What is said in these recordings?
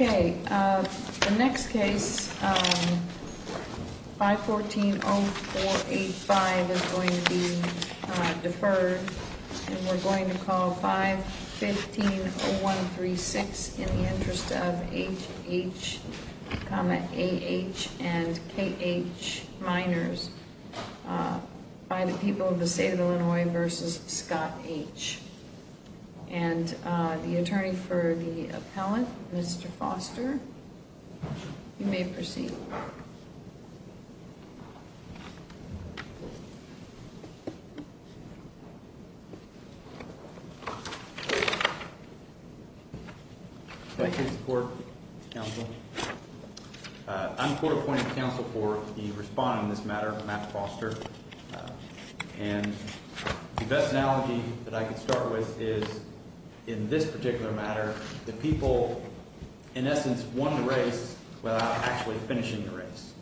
Okay, the next case 514-0485 is going to be deferred, and we're going to call 515-0136 in the interest of H.H., A.H. and K.H. minors by the people of the state of Illinois, v. Scott H. And the attorney for the appellant, Mr. Foster, you may proceed. Thank you for your support, counsel. I'm court-appointed counsel for the respondent in this matter, Matt Foster. And the best analogy that I can start with is in this particular matter that people, in essence, won the race without actually finishing the race.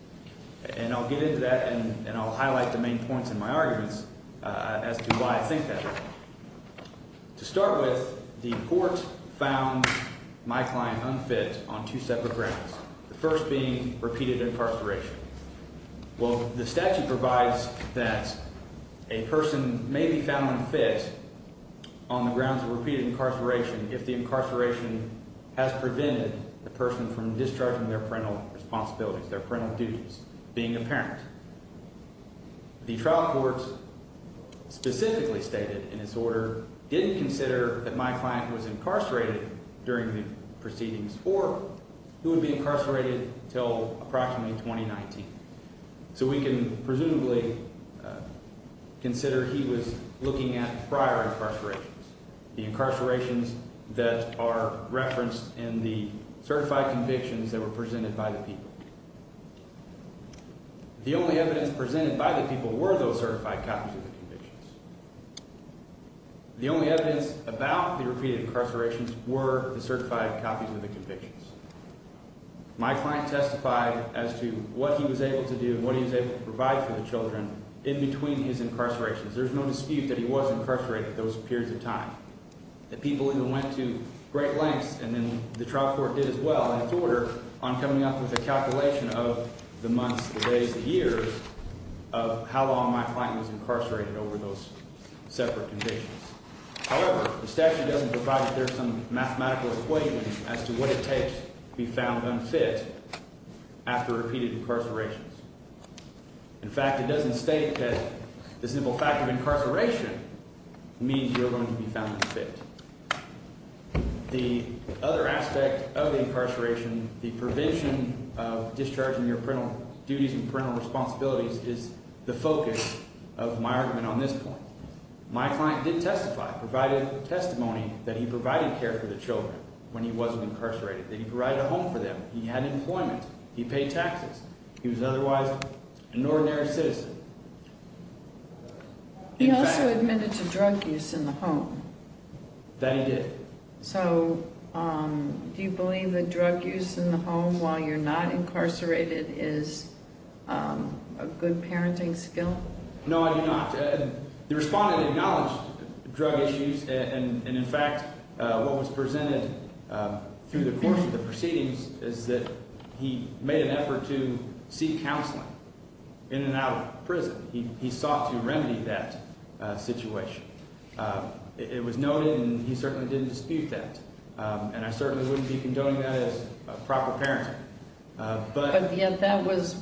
And I'll get into that, and I'll highlight the main points in my arguments as to why I think that way. To start with, the court found my client unfit on two separate grounds, the first being repeated incarceration. Well, the statute provides that a person may be found unfit on the grounds of repeated incarceration if the incarceration has prevented the person from discharging their parental responsibilities, their parental duties, being a parent. The trial courts specifically stated in this order didn't consider that my client was incarcerated during the proceedings or who would be incarcerated until approximately 2019. So we can presumably consider he was looking at prior incarcerations, the incarcerations that are referenced in the certified convictions that were presented by the people. The only evidence presented by the people were those certified copies of the convictions. The only evidence about the repeated incarcerations were the certified copies of the convictions. My client testified as to what he was able to do and what he was able to provide for the children in between his incarcerations. There's no dispute that he was incarcerated at those periods of time. The people even went to great lengths, and then the trial court did as well in its order, on coming up with a calculation of the months, the days, the years of how long my client was incarcerated over those separate convictions. However, the statute doesn't provide that there's some mathematical equation as to what it takes to be found unfit after repeated incarcerations. In fact, it doesn't state that the simple fact of incarceration means you're going to be found unfit. The other aspect of the incarceration, the provision of discharging your parental duties and parental responsibilities is the focus of my argument on this point. My client did testify, provided testimony that he provided care for the children when he wasn't incarcerated, that he provided a home for them. He had employment. He paid taxes. He was otherwise an ordinary citizen. He also admitted to drug use in the home. That he did. So do you believe that drug use in the home while you're not incarcerated is a good parenting skill? No, I do not. The respondent acknowledged drug issues, and in fact, what was presented through the course of the proceedings is that he made an effort to seek counseling in and out of prison. He sought to remedy that situation. It was noted, and he certainly didn't dispute that. And I certainly wouldn't be condoning that as proper parenting. But yet that was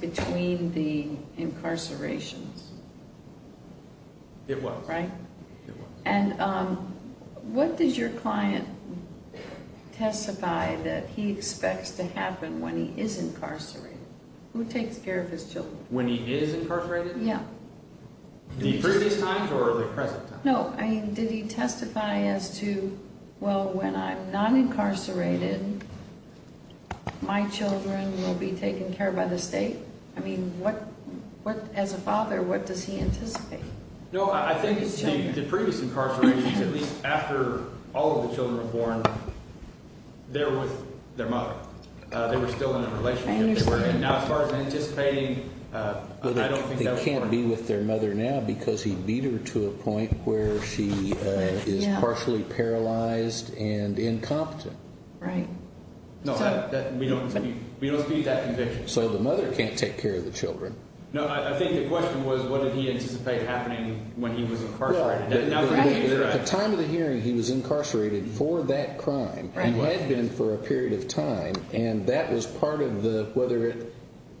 between the incarcerations. It was. Right? It was. And what did your client testify that he expects to happen when he is incarcerated? Who takes care of his children? When he is incarcerated? Yeah. The previous times or the present times? No, I mean, did he testify as to, well, when I'm not incarcerated, my children will be taken care of by the state? I mean, what, as a father, what does he anticipate? No, I think the previous incarcerations, at least after all of the children were born, they were with their mother. They were still in a relationship. Now, as far as I'm anticipating, I don't think that would work. He can't be with their mother now because he beat her to a point where she is partially paralyzed and incompetent. Right. No, we don't dispute that conviction. So the mother can't take care of the children. No, I think the question was what did he anticipate happening when he was incarcerated. At the time of the hearing, he was incarcerated for that crime. He had been for a period of time. And that was part of the whether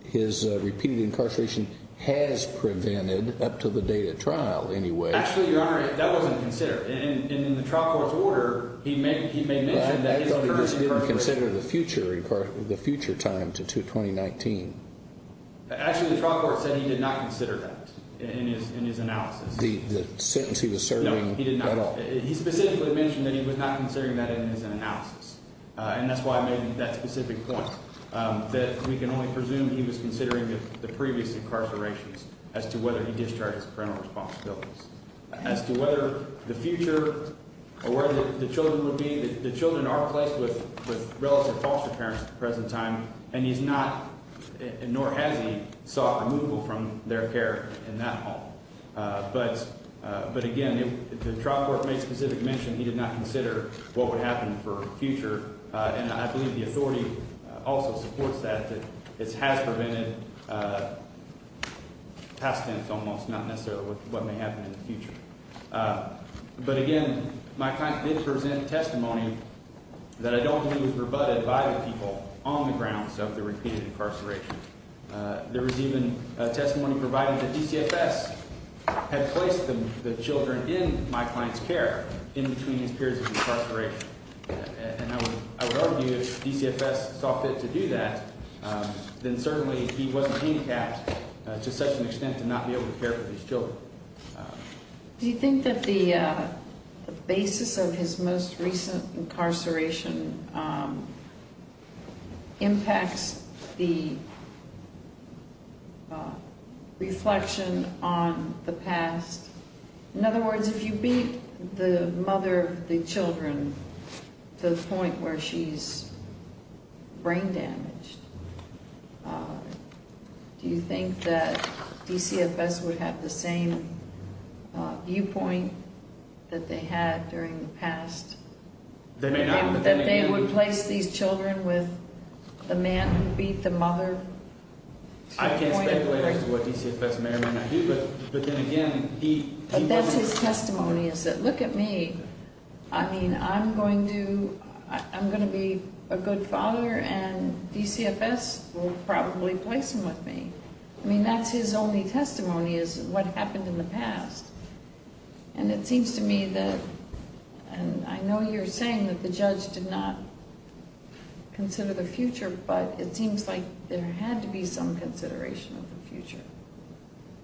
his repeated incarceration has prevented up to the date of trial anyway. Actually, Your Honor, that wasn't considered. In the trial court's order, he may mention that he was incarcerated. I thought he was going to consider the future time to 2019. Actually, the trial court said he did not consider that in his analysis. The sentence he was serving at all? No, he did not. He specifically mentioned that he was not considering that in his analysis. And that's why I made that specific point, that we can only presume he was considering the previous incarcerations as to whether he discharged his parental responsibilities. As to whether the future or where the children would be, the children are placed with relative foster parents at the present time. And he's not, nor has he, sought removal from their care in that home. But, again, the trial court made specific mention he did not consider what would happen for future. And I believe the authority also supports that. It has prevented past tense almost, not necessarily what may happen in the future. But, again, my client did present testimony that I don't believe was rebutted by the people on the grounds of the repeated incarceration. There was even a testimony provided that DCFS had placed the children in my client's care in between his periods of incarceration. And I would argue if DCFS saw fit to do that, then certainly he wasn't handicapped to such an extent to not be able to care for these children. Do you think that the basis of his most recent incarceration impacts the reflection on the past? In other words, if you beat the mother of the children to the point where she's brain damaged, do you think that DCFS would have the same viewpoint that they had during the past? That they would place these children with the man who beat the mother? I can't speculate as to what DCFS may or may not do. But that's his testimony, is that look at me. I mean, I'm going to be a good father and DCFS will probably place him with me. I mean, that's his only testimony is what happened in the past. And it seems to me that, and I know you're saying that the judge did not consider the future, but it seems like there had to be some consideration of the future.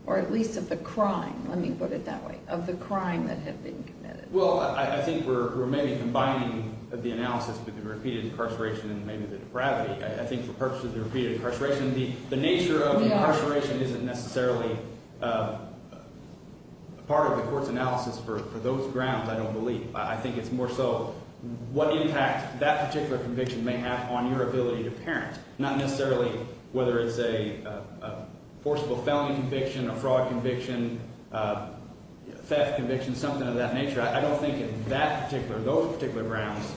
Or at least of the crime, let me put it that way, of the crime that had been committed. Well, I think we're maybe combining the analysis with the repeated incarceration and maybe the depravity. I think for purposes of the repeated incarceration, the nature of incarceration isn't necessarily part of the court's analysis for those grounds, I don't believe. I think it's more so what impact that particular conviction may have on your ability to parent. Not necessarily whether it's a forcible felony conviction, a fraud conviction, theft conviction, something of that nature. I don't think in that particular, those particular grounds,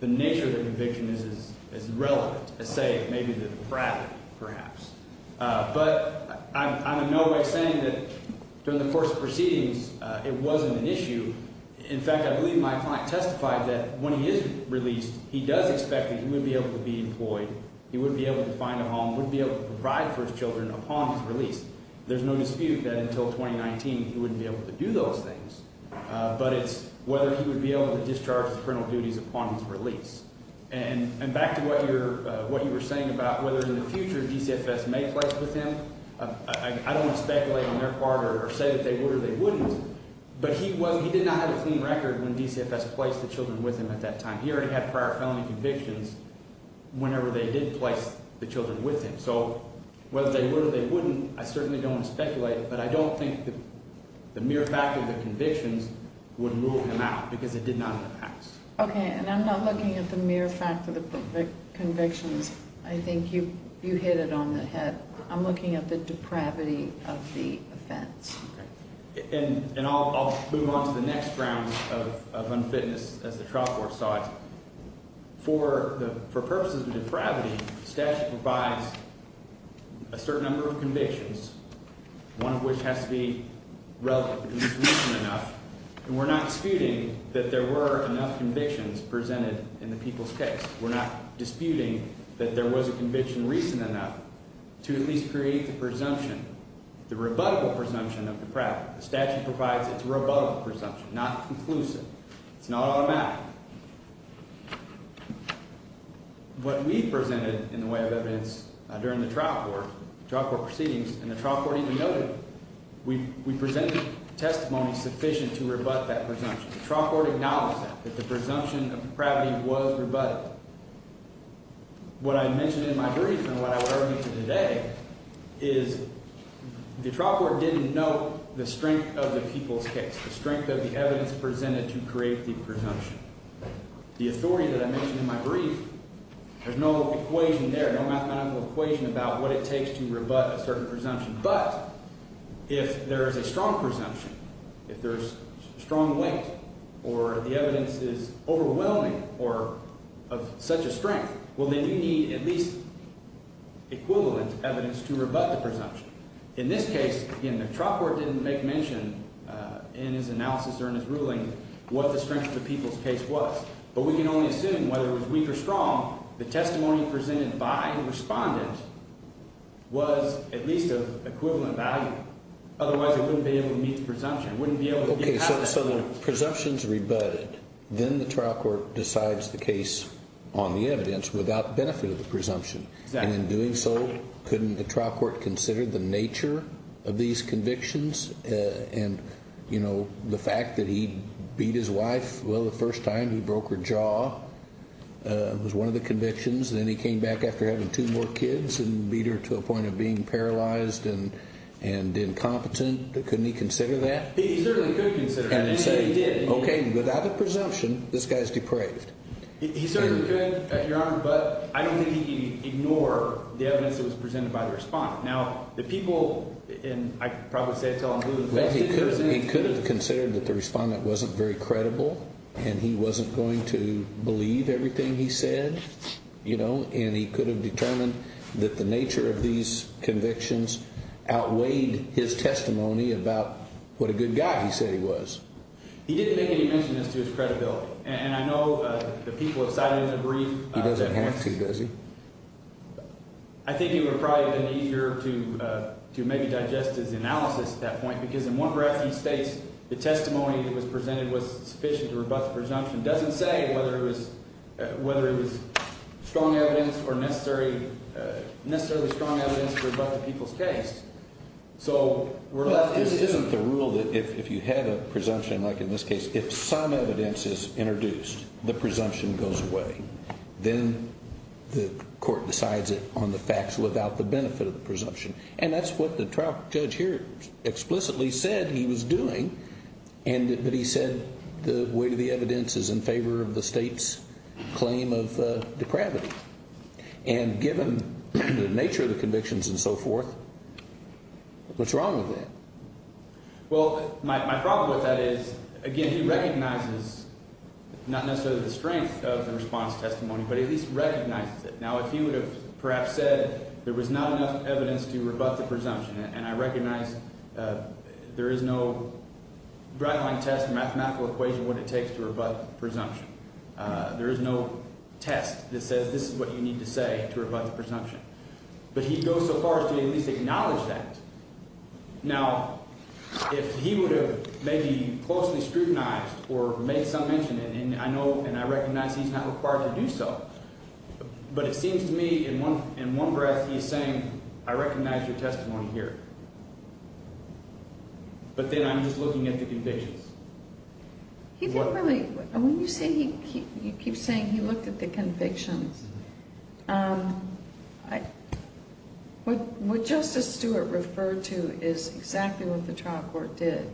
the nature of the conviction is as relevant as, say, maybe the depravity perhaps. But I'm in no way saying that during the course of proceedings it wasn't an issue. In fact, I believe my client testified that when he is released, he does expect that he would be able to be employed. He would be able to find a home, would be able to provide for his children upon his release. There's no dispute that until 2019 he wouldn't be able to do those things. But it's whether he would be able to discharge his parental duties upon his release. And back to what you were saying about whether in the future DCFS may play with him, I don't want to speculate on their part or say that they would or they wouldn't. But he did not have a clean record when DCFS placed the children with him at that time. He already had prior felony convictions whenever they did place the children with him. So whether they would or they wouldn't, I certainly don't want to speculate. But I don't think the mere fact of the convictions would rule him out because it did not in the past. Okay, and I'm not looking at the mere fact of the convictions. I think you hit it on the head. I'm looking at the depravity of the offense. Okay, and I'll move on to the next round of unfitness as the trial court saw it. For purposes of depravity, statute provides a certain number of convictions, one of which has to be relative because it's recent enough. And we're not disputing that there were enough convictions presented in the people's case. We're not disputing that there was a conviction recent enough to at least create the presumption, the rebuttable presumption of depravity. The statute provides its rebuttable presumption, not conclusive. It's not automatic. What we presented in the way of evidence during the trial court proceedings and the trial court even noted, we presented testimony sufficient to rebut that presumption. The trial court acknowledged that, that the presumption of depravity was rebutted. What I mentioned in my brief and what I would argue to today is the trial court didn't know the strength of the people's case, the strength of the evidence presented to create the presumption. The authority that I mentioned in my brief, there's no equation there, no mathematical equation about what it takes to rebut a certain presumption. But if there is a strong presumption, if there is strong weight or the evidence is overwhelming or of such a strength, well, then you need at least equivalent evidence to rebut the presumption. In this case, again, the trial court didn't make mention in his analysis or in his ruling what the strength of the people's case was. But we can only assume whether it was weak or strong, the testimony presented by the respondent was at least of equivalent value. Otherwise, it wouldn't be able to meet the presumption. It wouldn't be able to be passed. Okay, so the presumption is rebutted. Then the trial court decides the case on the evidence without benefit of the presumption. Exactly. And in doing so, couldn't the trial court consider the nature of these convictions and the fact that he beat his wife? Well, the first time he broke her jaw was one of the convictions. Then he came back after having two more kids and beat her to a point of being paralyzed and incompetent. Couldn't he consider that? He certainly could consider that. And he said he did. Okay, without a presumption, this guy is depraved. He certainly could, Your Honor, but I don't think he'd ignore the evidence that was presented by the respondent. Now, the people, and I can probably say it until I'm proven innocent. He could have considered that the respondent wasn't very credible and he wasn't going to believe everything he said, you know, and he could have determined that the nature of these convictions outweighed his testimony about what a good guy he said he was. He didn't make any mention as to his credibility. And I know the people have cited him to brief. He doesn't have to, does he? I think it would have probably been easier to maybe digest his analysis at that point, because in one breath he states the testimony that was presented was sufficient to rebut the presumption. It doesn't say whether it was strong evidence or necessarily strong evidence to rebut the people's case. So we're left indifferent. Isn't the rule that if you have a presumption, like in this case, if some evidence is introduced, the presumption goes away. Then the court decides it on the facts without the benefit of the presumption. And that's what the trial judge here explicitly said he was doing, but he said the weight of the evidence is in favor of the State's claim of depravity. And given the nature of the convictions and so forth, what's wrong with that? Well, my problem with that is, again, he recognizes not necessarily the strength of the response testimony, but he at least recognizes it. Now, if he would have perhaps said there was not enough evidence to rebut the presumption – and I recognize there is no guideline test, mathematical equation, what it takes to rebut presumption. There is no test that says this is what you need to say to rebut the presumption. But he goes so far as to at least acknowledge that. Now, if he would have maybe closely scrutinized or made some mention, and I know and I recognize he's not required to do so, but it seems to me in one breath he's saying, I recognize your testimony here. But then I'm just looking at the convictions. He didn't really – when you say he – you keep saying he looked at the convictions. What Justice Stewart referred to is exactly what the trial court did.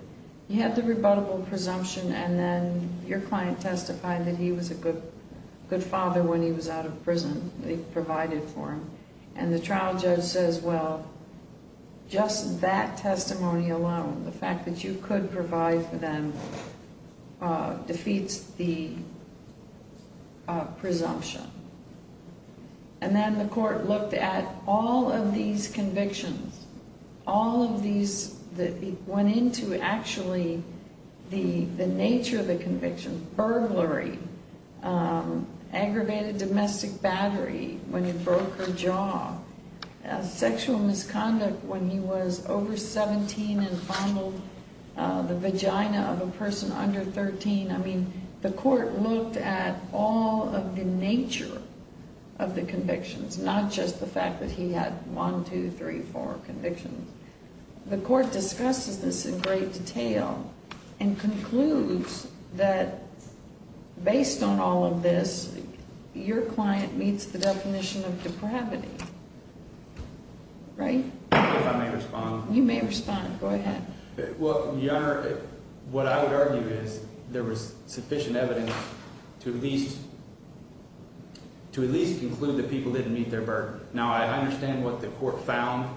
He had the rebuttable presumption, and then your client testified that he was a good father when he was out of prison. They provided for him. And the trial judge says, well, just that testimony alone, the fact that you could provide for them, defeats the presumption. And then the court looked at all of these convictions, all of these that went into actually the nature of the conviction, burglary, aggravated domestic battery when he broke her jaw, sexual misconduct when he was over 17 and fondled the vagina of a person under 13. I mean, the court looked at all of the nature of the convictions, not just the fact that he had one, two, three, four convictions. The court discusses this in great detail and concludes that based on all of this, your client meets the definition of depravity. Right? If I may respond. You may respond. Go ahead. Well, Your Honor, what I would argue is there was sufficient evidence to at least conclude that people didn't meet their burden. Now, I understand what the court found,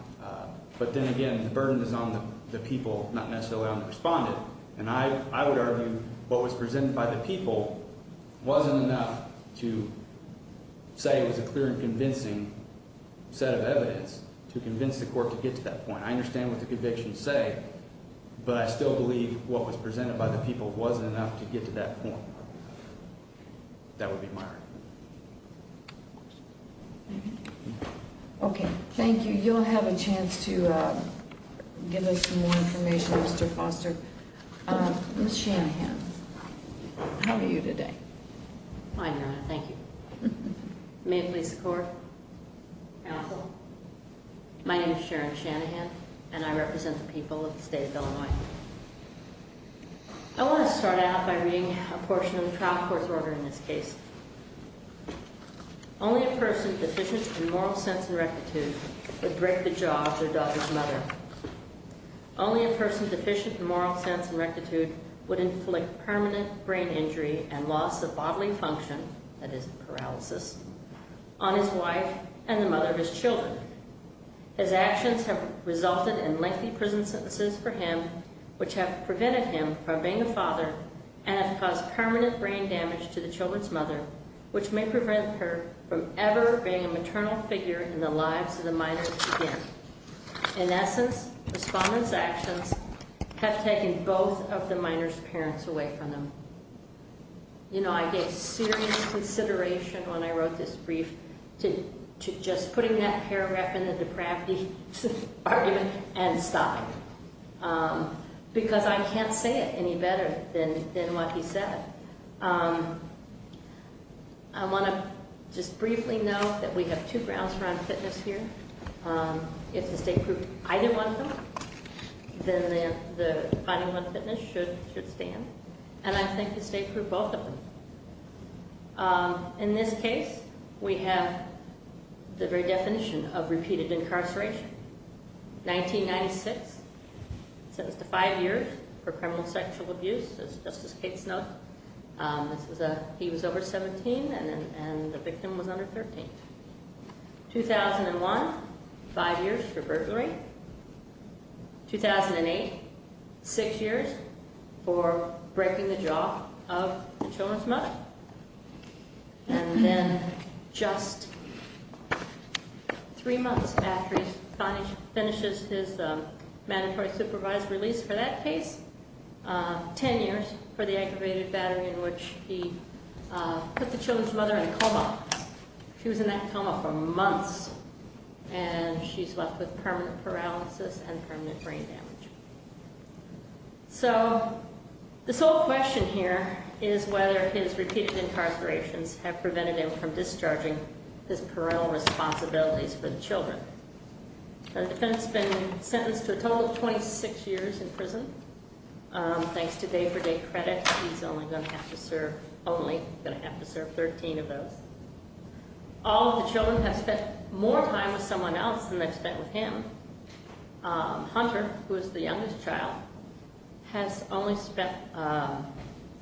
but then again, the burden is on the people, not necessarily on the respondent. And I would argue what was presented by the people wasn't enough to say it was a clear and convincing set of evidence to convince the court to get to that point. I understand what the convictions say, but I still believe what was presented by the people wasn't enough to get to that point. That would be my argument. Okay, thank you. You'll have a chance to give us some more information, Mr. Foster. Ms. Shanahan, how are you today? I'm fine, Your Honor. Thank you. May it please the court. Counsel. My name is Sharon Shanahan, and I represent the people of the state of Illinois. I want to start out by reading a portion of the trial court's order in this case. Only a person deficient in moral sense and rectitude would break the jaw of their daughter's mother. Only a person deficient in moral sense and rectitude would inflict permanent brain injury and loss of bodily function, that is, paralysis, on his wife and the mother of his children. His actions have resulted in lengthy prison sentences for him, which have prevented him from being a father and have caused permanent brain damage to the children's mother, which may prevent her from ever being a maternal figure in the lives of the minors again. In essence, Respondent's actions have taken both of the minors' parents away from them. You know, I gave serious consideration when I wrote this brief to just putting that paragraph in the depravity argument and stopping it, because I can't say it any better than what he said. I want to just briefly note that we have two grounds for unfitness here. If the state proved either one of them, then the finding of unfitness should stand. I think the state proved both of them. In this case, we have the very definition of repeated incarceration. 1996, sentenced to five years for criminal sexual abuse, as Justice Kate Snowden, he was over 17 and the victim was under 13. 2001, five years for burglary. 2008, six years for breaking the jaw of the children's mother. And then just three months after he finally finishes his mandatory supervised release for that case, ten years for the aggravated battery in which he put the children's mother in a coma. Well, she was in that coma for months, and she's left with permanent paralysis and permanent brain damage. So, the sole question here is whether his repeated incarcerations have prevented him from discharging his parental responsibilities for the children. The defendant's been sentenced to a total of 26 years in prison. Thanks to day-for-day credit, he's only going to have to serve, only going to have to serve 13 of those. All of the children have spent more time with someone else than they've spent with him. Hunter, who is the youngest child, has only spent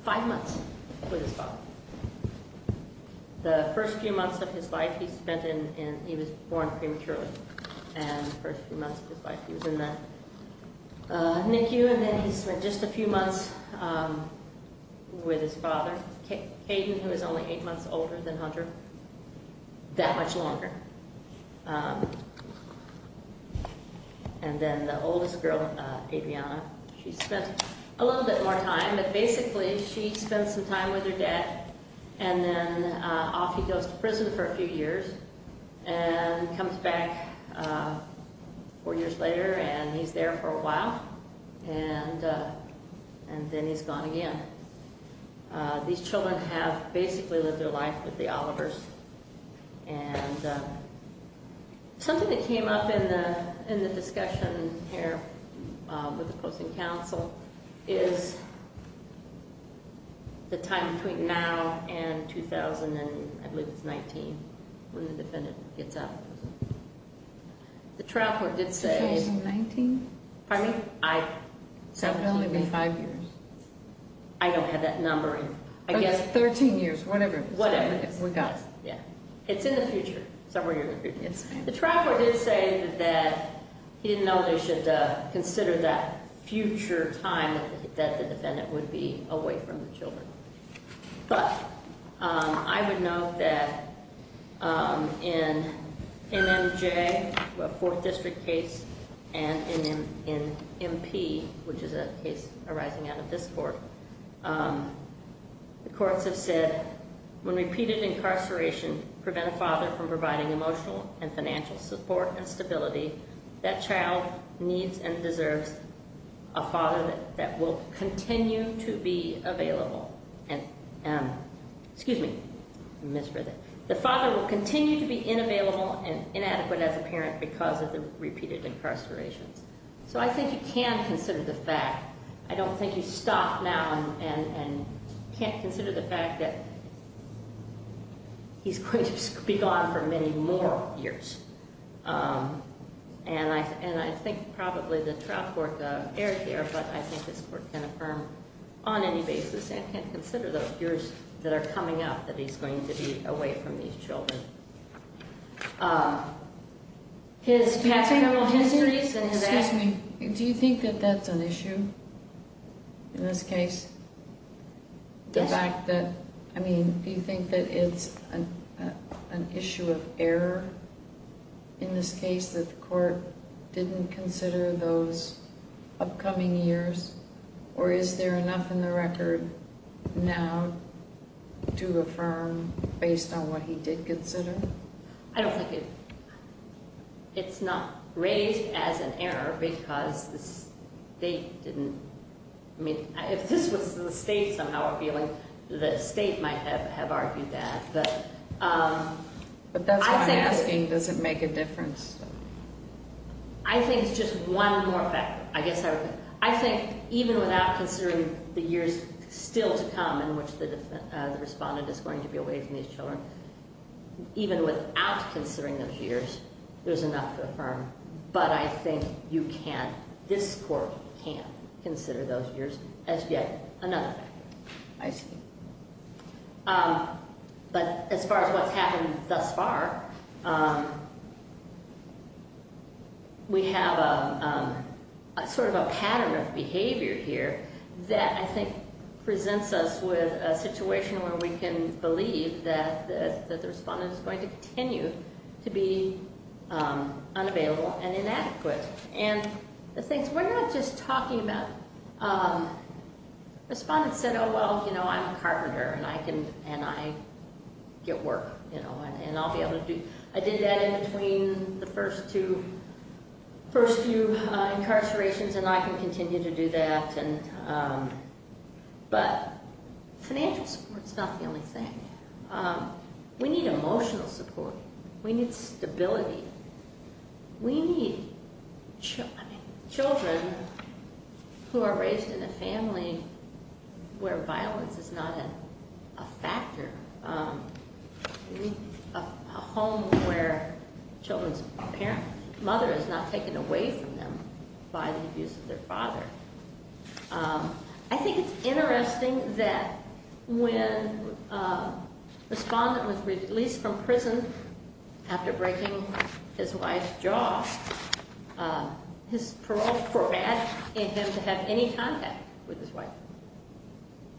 five months with his father. The first few months of his life he spent in, he was born prematurely, and the first few months of his life he was in that NICU. And then he spent just a few months with his father, Caden, who is only eight months older than Hunter, that much longer. And then the oldest girl, Adriana, she spent a little bit more time, but basically she spent some time with her dad. And then off he goes to prison for a few years, and comes back four years later, and he's there for a while. And then he's gone again. These children have basically lived their life with the Olivers. And something that came up in the discussion here with opposing counsel is the time between now and 2000, I believe it's 19, when the defendant gets out of prison. The trial court did say- 2019? Pardon me? I- So it would only be five years. I don't have that number. But it's 13 years, whatever it is. Whatever it is. We got it. Yeah. It's in the future. The trial court did say that he didn't know they should consider that future time that the defendant would be away from the children. But I would note that in MMJ, a fourth district case, and in MP, which is a case arising out of this court, the courts have said when repeated incarceration prevents a father from providing emotional and financial support and stability, that child needs and deserves a father that will continue to be available. Excuse me. I misread that. The father will continue to be inavailable and inadequate as a parent because of the repeated incarceration. So I think you can consider the fact. I don't think you stop now and can't consider the fact that he's going to be gone for many more years. And I think probably the trial court erred here, but I think this court can affirm on any basis and can consider the years that are coming up that he's going to be away from these children. His categorical histories and his- Excuse me. Do you think that that's an issue in this case? Yes. Do you think that it's an issue of error in this case that the court didn't consider those upcoming years? Or is there enough in the record now to affirm based on what he did consider? I don't think it's not raised as an error because the state didn't- I mean, if this was the state somehow appealing, the state might have argued that. But that's what I'm asking. Does it make a difference? I think it's just one more factor. I guess I would- I think even without considering the years still to come in which the respondent is going to be away from these children, even without considering those years, there's enough to affirm. But I think you can't- this court can't consider those years as yet another factor. I see. But as far as what's happened thus far, we have a sort of a pattern of behavior here that I think presents us with a situation where we can believe that the respondent is going to continue to be unavailable and inadequate. And the things- we're not just talking about- respondent said, oh, well, you know, I'm a carpenter and I can- and I get work, you know, and I'll be able to do- I did that in between the first two- first few incarcerations and I can continue to do that. But financial support is not the only thing. We need emotional support. We need stability. We need- I mean, children who are raised in a family where violence is not a factor, a home where children's parents- mother is not taken away from them by the abuse of their father. I think it's interesting that when a respondent was released from prison after breaking his wife's jaw, his parole probated him to have any contact with his wife.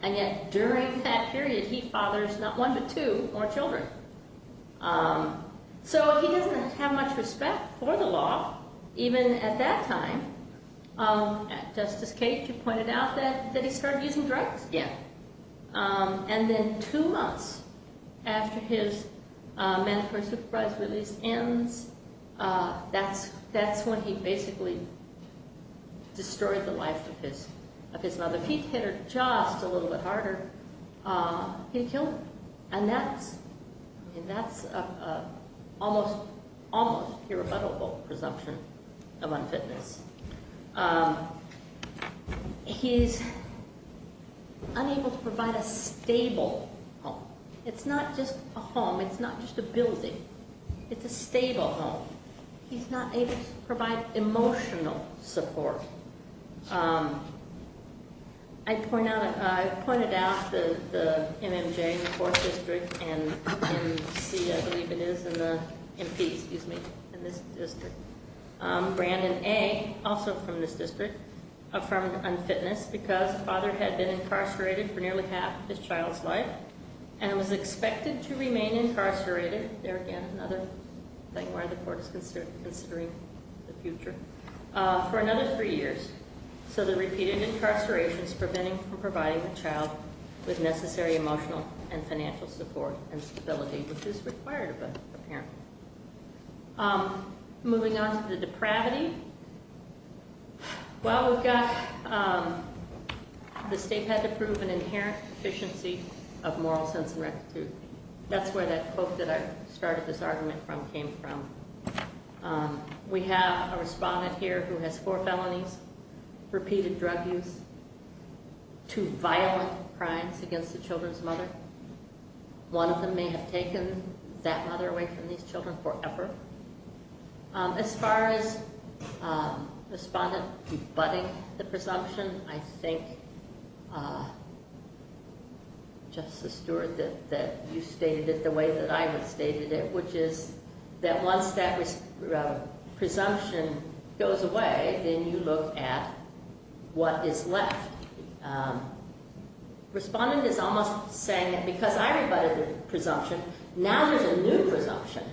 And yet during that period, he fathers not one but two more children. So he doesn't have much respect for the law, even at that time. Justice Cage, you pointed out that he started using drugs? Yeah. And then two months after his mandatory supervised release ends, that's when he basically destroyed the life of his mother. If he'd hit her just a little bit harder, he'd kill her. And that's an almost irrebuttable presumption of unfitness. He's unable to provide a stable home. It's not just a home, it's not just a building. It's a stable home. He's not able to provide emotional support. I pointed out the MMJ in the 4th District and MC, I believe it is, in the MP, excuse me, in this district. Brandon A., also from this district, affirmed unfitness because the father had been incarcerated for nearly half his child's life and was expected to remain incarcerated. There again, another thing where the court is considering the future. For another three years. So the repeated incarceration is preventing from providing a child with necessary emotional and financial support and stability, which is required of a parent. Moving on to the depravity. Well, we've got, the state had to prove an inherent deficiency of moral sense and rectitude. That's where that quote that I started this argument from came from. We have a respondent here who has four felonies, repeated drug use, two violent crimes against the children's mother. One of them may have taken that mother away from these children forever. As far as respondent rebutting the presumption, I think, Justice Stewart, that you stated it the way that I have stated it, which is that once that presumption goes away, then you look at what is left. Respondent is almost saying that because I rebutted the presumption, now there's a new presumption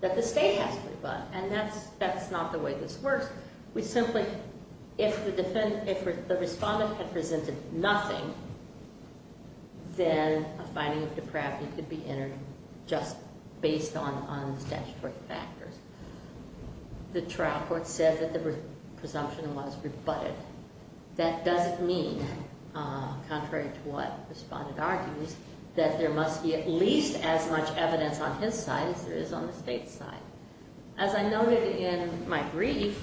that the state has to rebut. And that's not the way this works. We simply, if the defendant, if the respondent had presented nothing, then a finding of depravity could be entered just based on statutory factors. The trial court said that the presumption was rebutted. That doesn't mean, contrary to what respondent argues, that there must be at least as much evidence on his side as there is on the state's side. As I noted in my brief,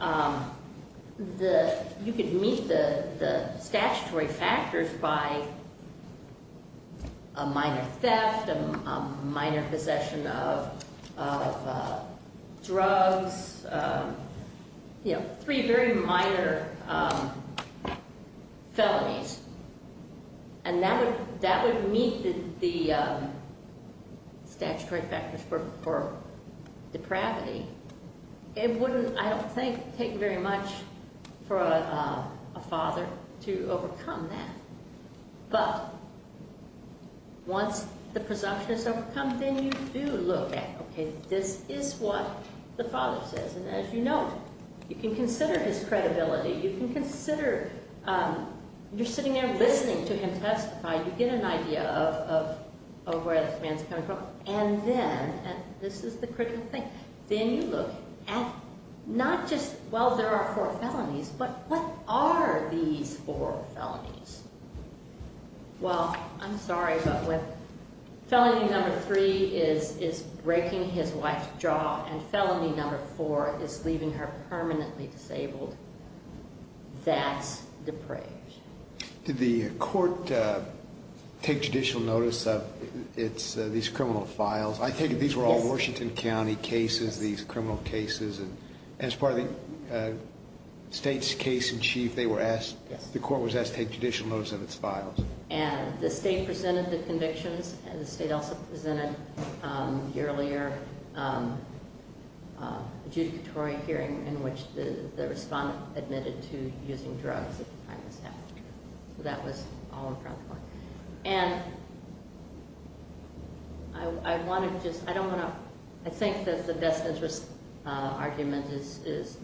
you could meet the statutory factors by a minor theft, a minor possession of drugs, three very minor felonies. And that would meet the statutory factors for depravity. It wouldn't, I don't think, take very much for a father to overcome that. But once the presumption is overcome, then you do look at, okay, this is what the father says. And as you note, you can consider his credibility. You can consider, you're sitting there listening to him testify. You get an idea of where this man's coming from. And then, and this is the critical thing, then you look at not just, well, there are four felonies, but what are these four felonies? Well, I'm sorry, but felony number three is breaking his wife's jaw. And felony number four is leaving her permanently disabled. That's depraved. Did the court take judicial notice of these criminal files? I take it these were all Washington County cases, these criminal cases. And as part of the state's case in chief, they were asked, the court was asked to take judicial notice of its files. And the state presented the convictions, and the state also presented the earlier adjudicatory hearing in which the respondent admitted to using drugs at the time this happened. So that was all in front of the court. And I want to just, I don't want to, I think that the best interest argument is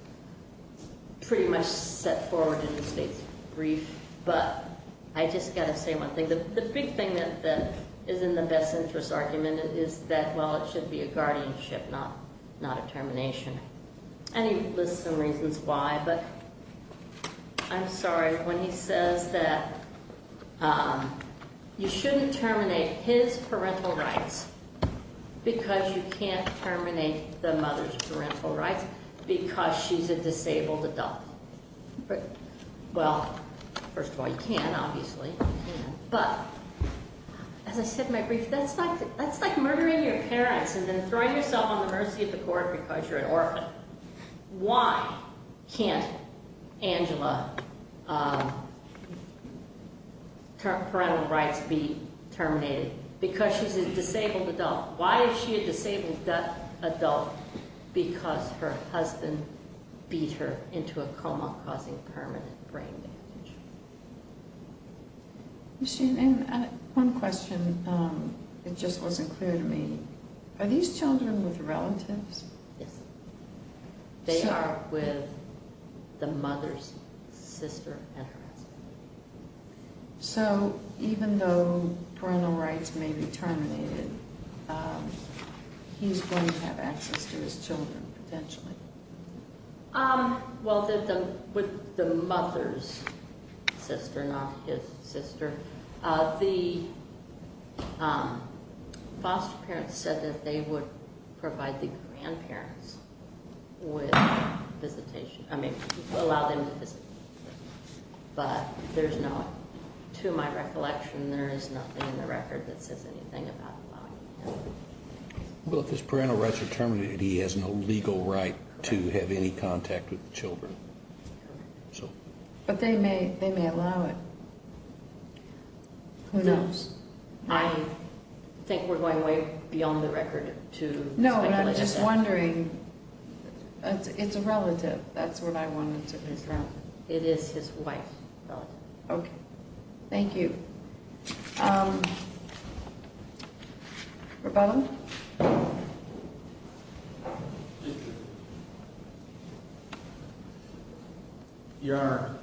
pretty much set forward in the state's brief. But I just got to say one thing. The big thing that is in the best interest argument is that, well, it should be a guardianship, not a termination. And he lists some reasons why. But I'm sorry, when he says that you shouldn't terminate his parental rights because you can't terminate the mother's parental rights because she's a disabled adult. Well, first of all, you can, obviously. But as I said in my brief, that's like murdering your parents and then throwing yourself on the mercy of the court because you're an orphan. So why can't Angela's parental rights be terminated? Because she's a disabled adult. Why is she a disabled adult? Because her husband beat her into a coma, causing permanent brain damage. And one question, it just wasn't clear to me. Are these children with relatives? Yes. They are with the mother's sister and her husband. So even though parental rights may be terminated, he's going to have access to his children, potentially. Well, with the mother's sister, not his sister. The foster parents said that they would provide the grandparents with visitation. I mean, allow them to visit. But there's no, to my recollection, there is nothing in the record that says anything about allowing him. Well, if his parental rights are terminated, he has no legal right to have any contact with the children. But they may allow it. Who knows? I think we're going way beyond the record to speculate. No, and I'm just wondering, it's a relative. That's what I wanted to understand. It is his wife's relative. Okay. Thank you. Rebella? Your Honor,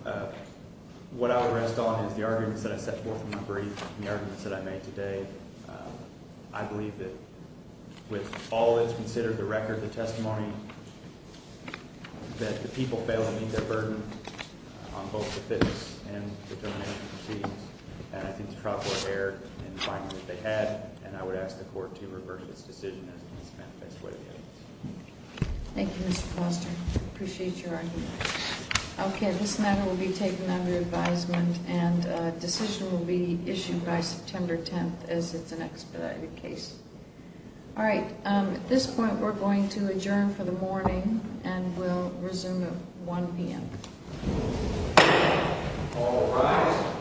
what I would rest on is the arguments that I set forth in my brief and the arguments that I made today. I believe that with all that's considered the record, the testimony, that the people fail to meet their burden on both the fitness and the donation proceedings. And I think the trial court erred in finding that they had. And I would ask the court to reverse its decision as it is manifest way to the evidence. Thank you, Mr. Foster. I appreciate your argument. Okay. This matter will be taken under advisement and a decision will be issued by September 10th as it's an expedited case. All right. At this point, we're going to adjourn for the morning and we'll resume at 1 p.m. All rise.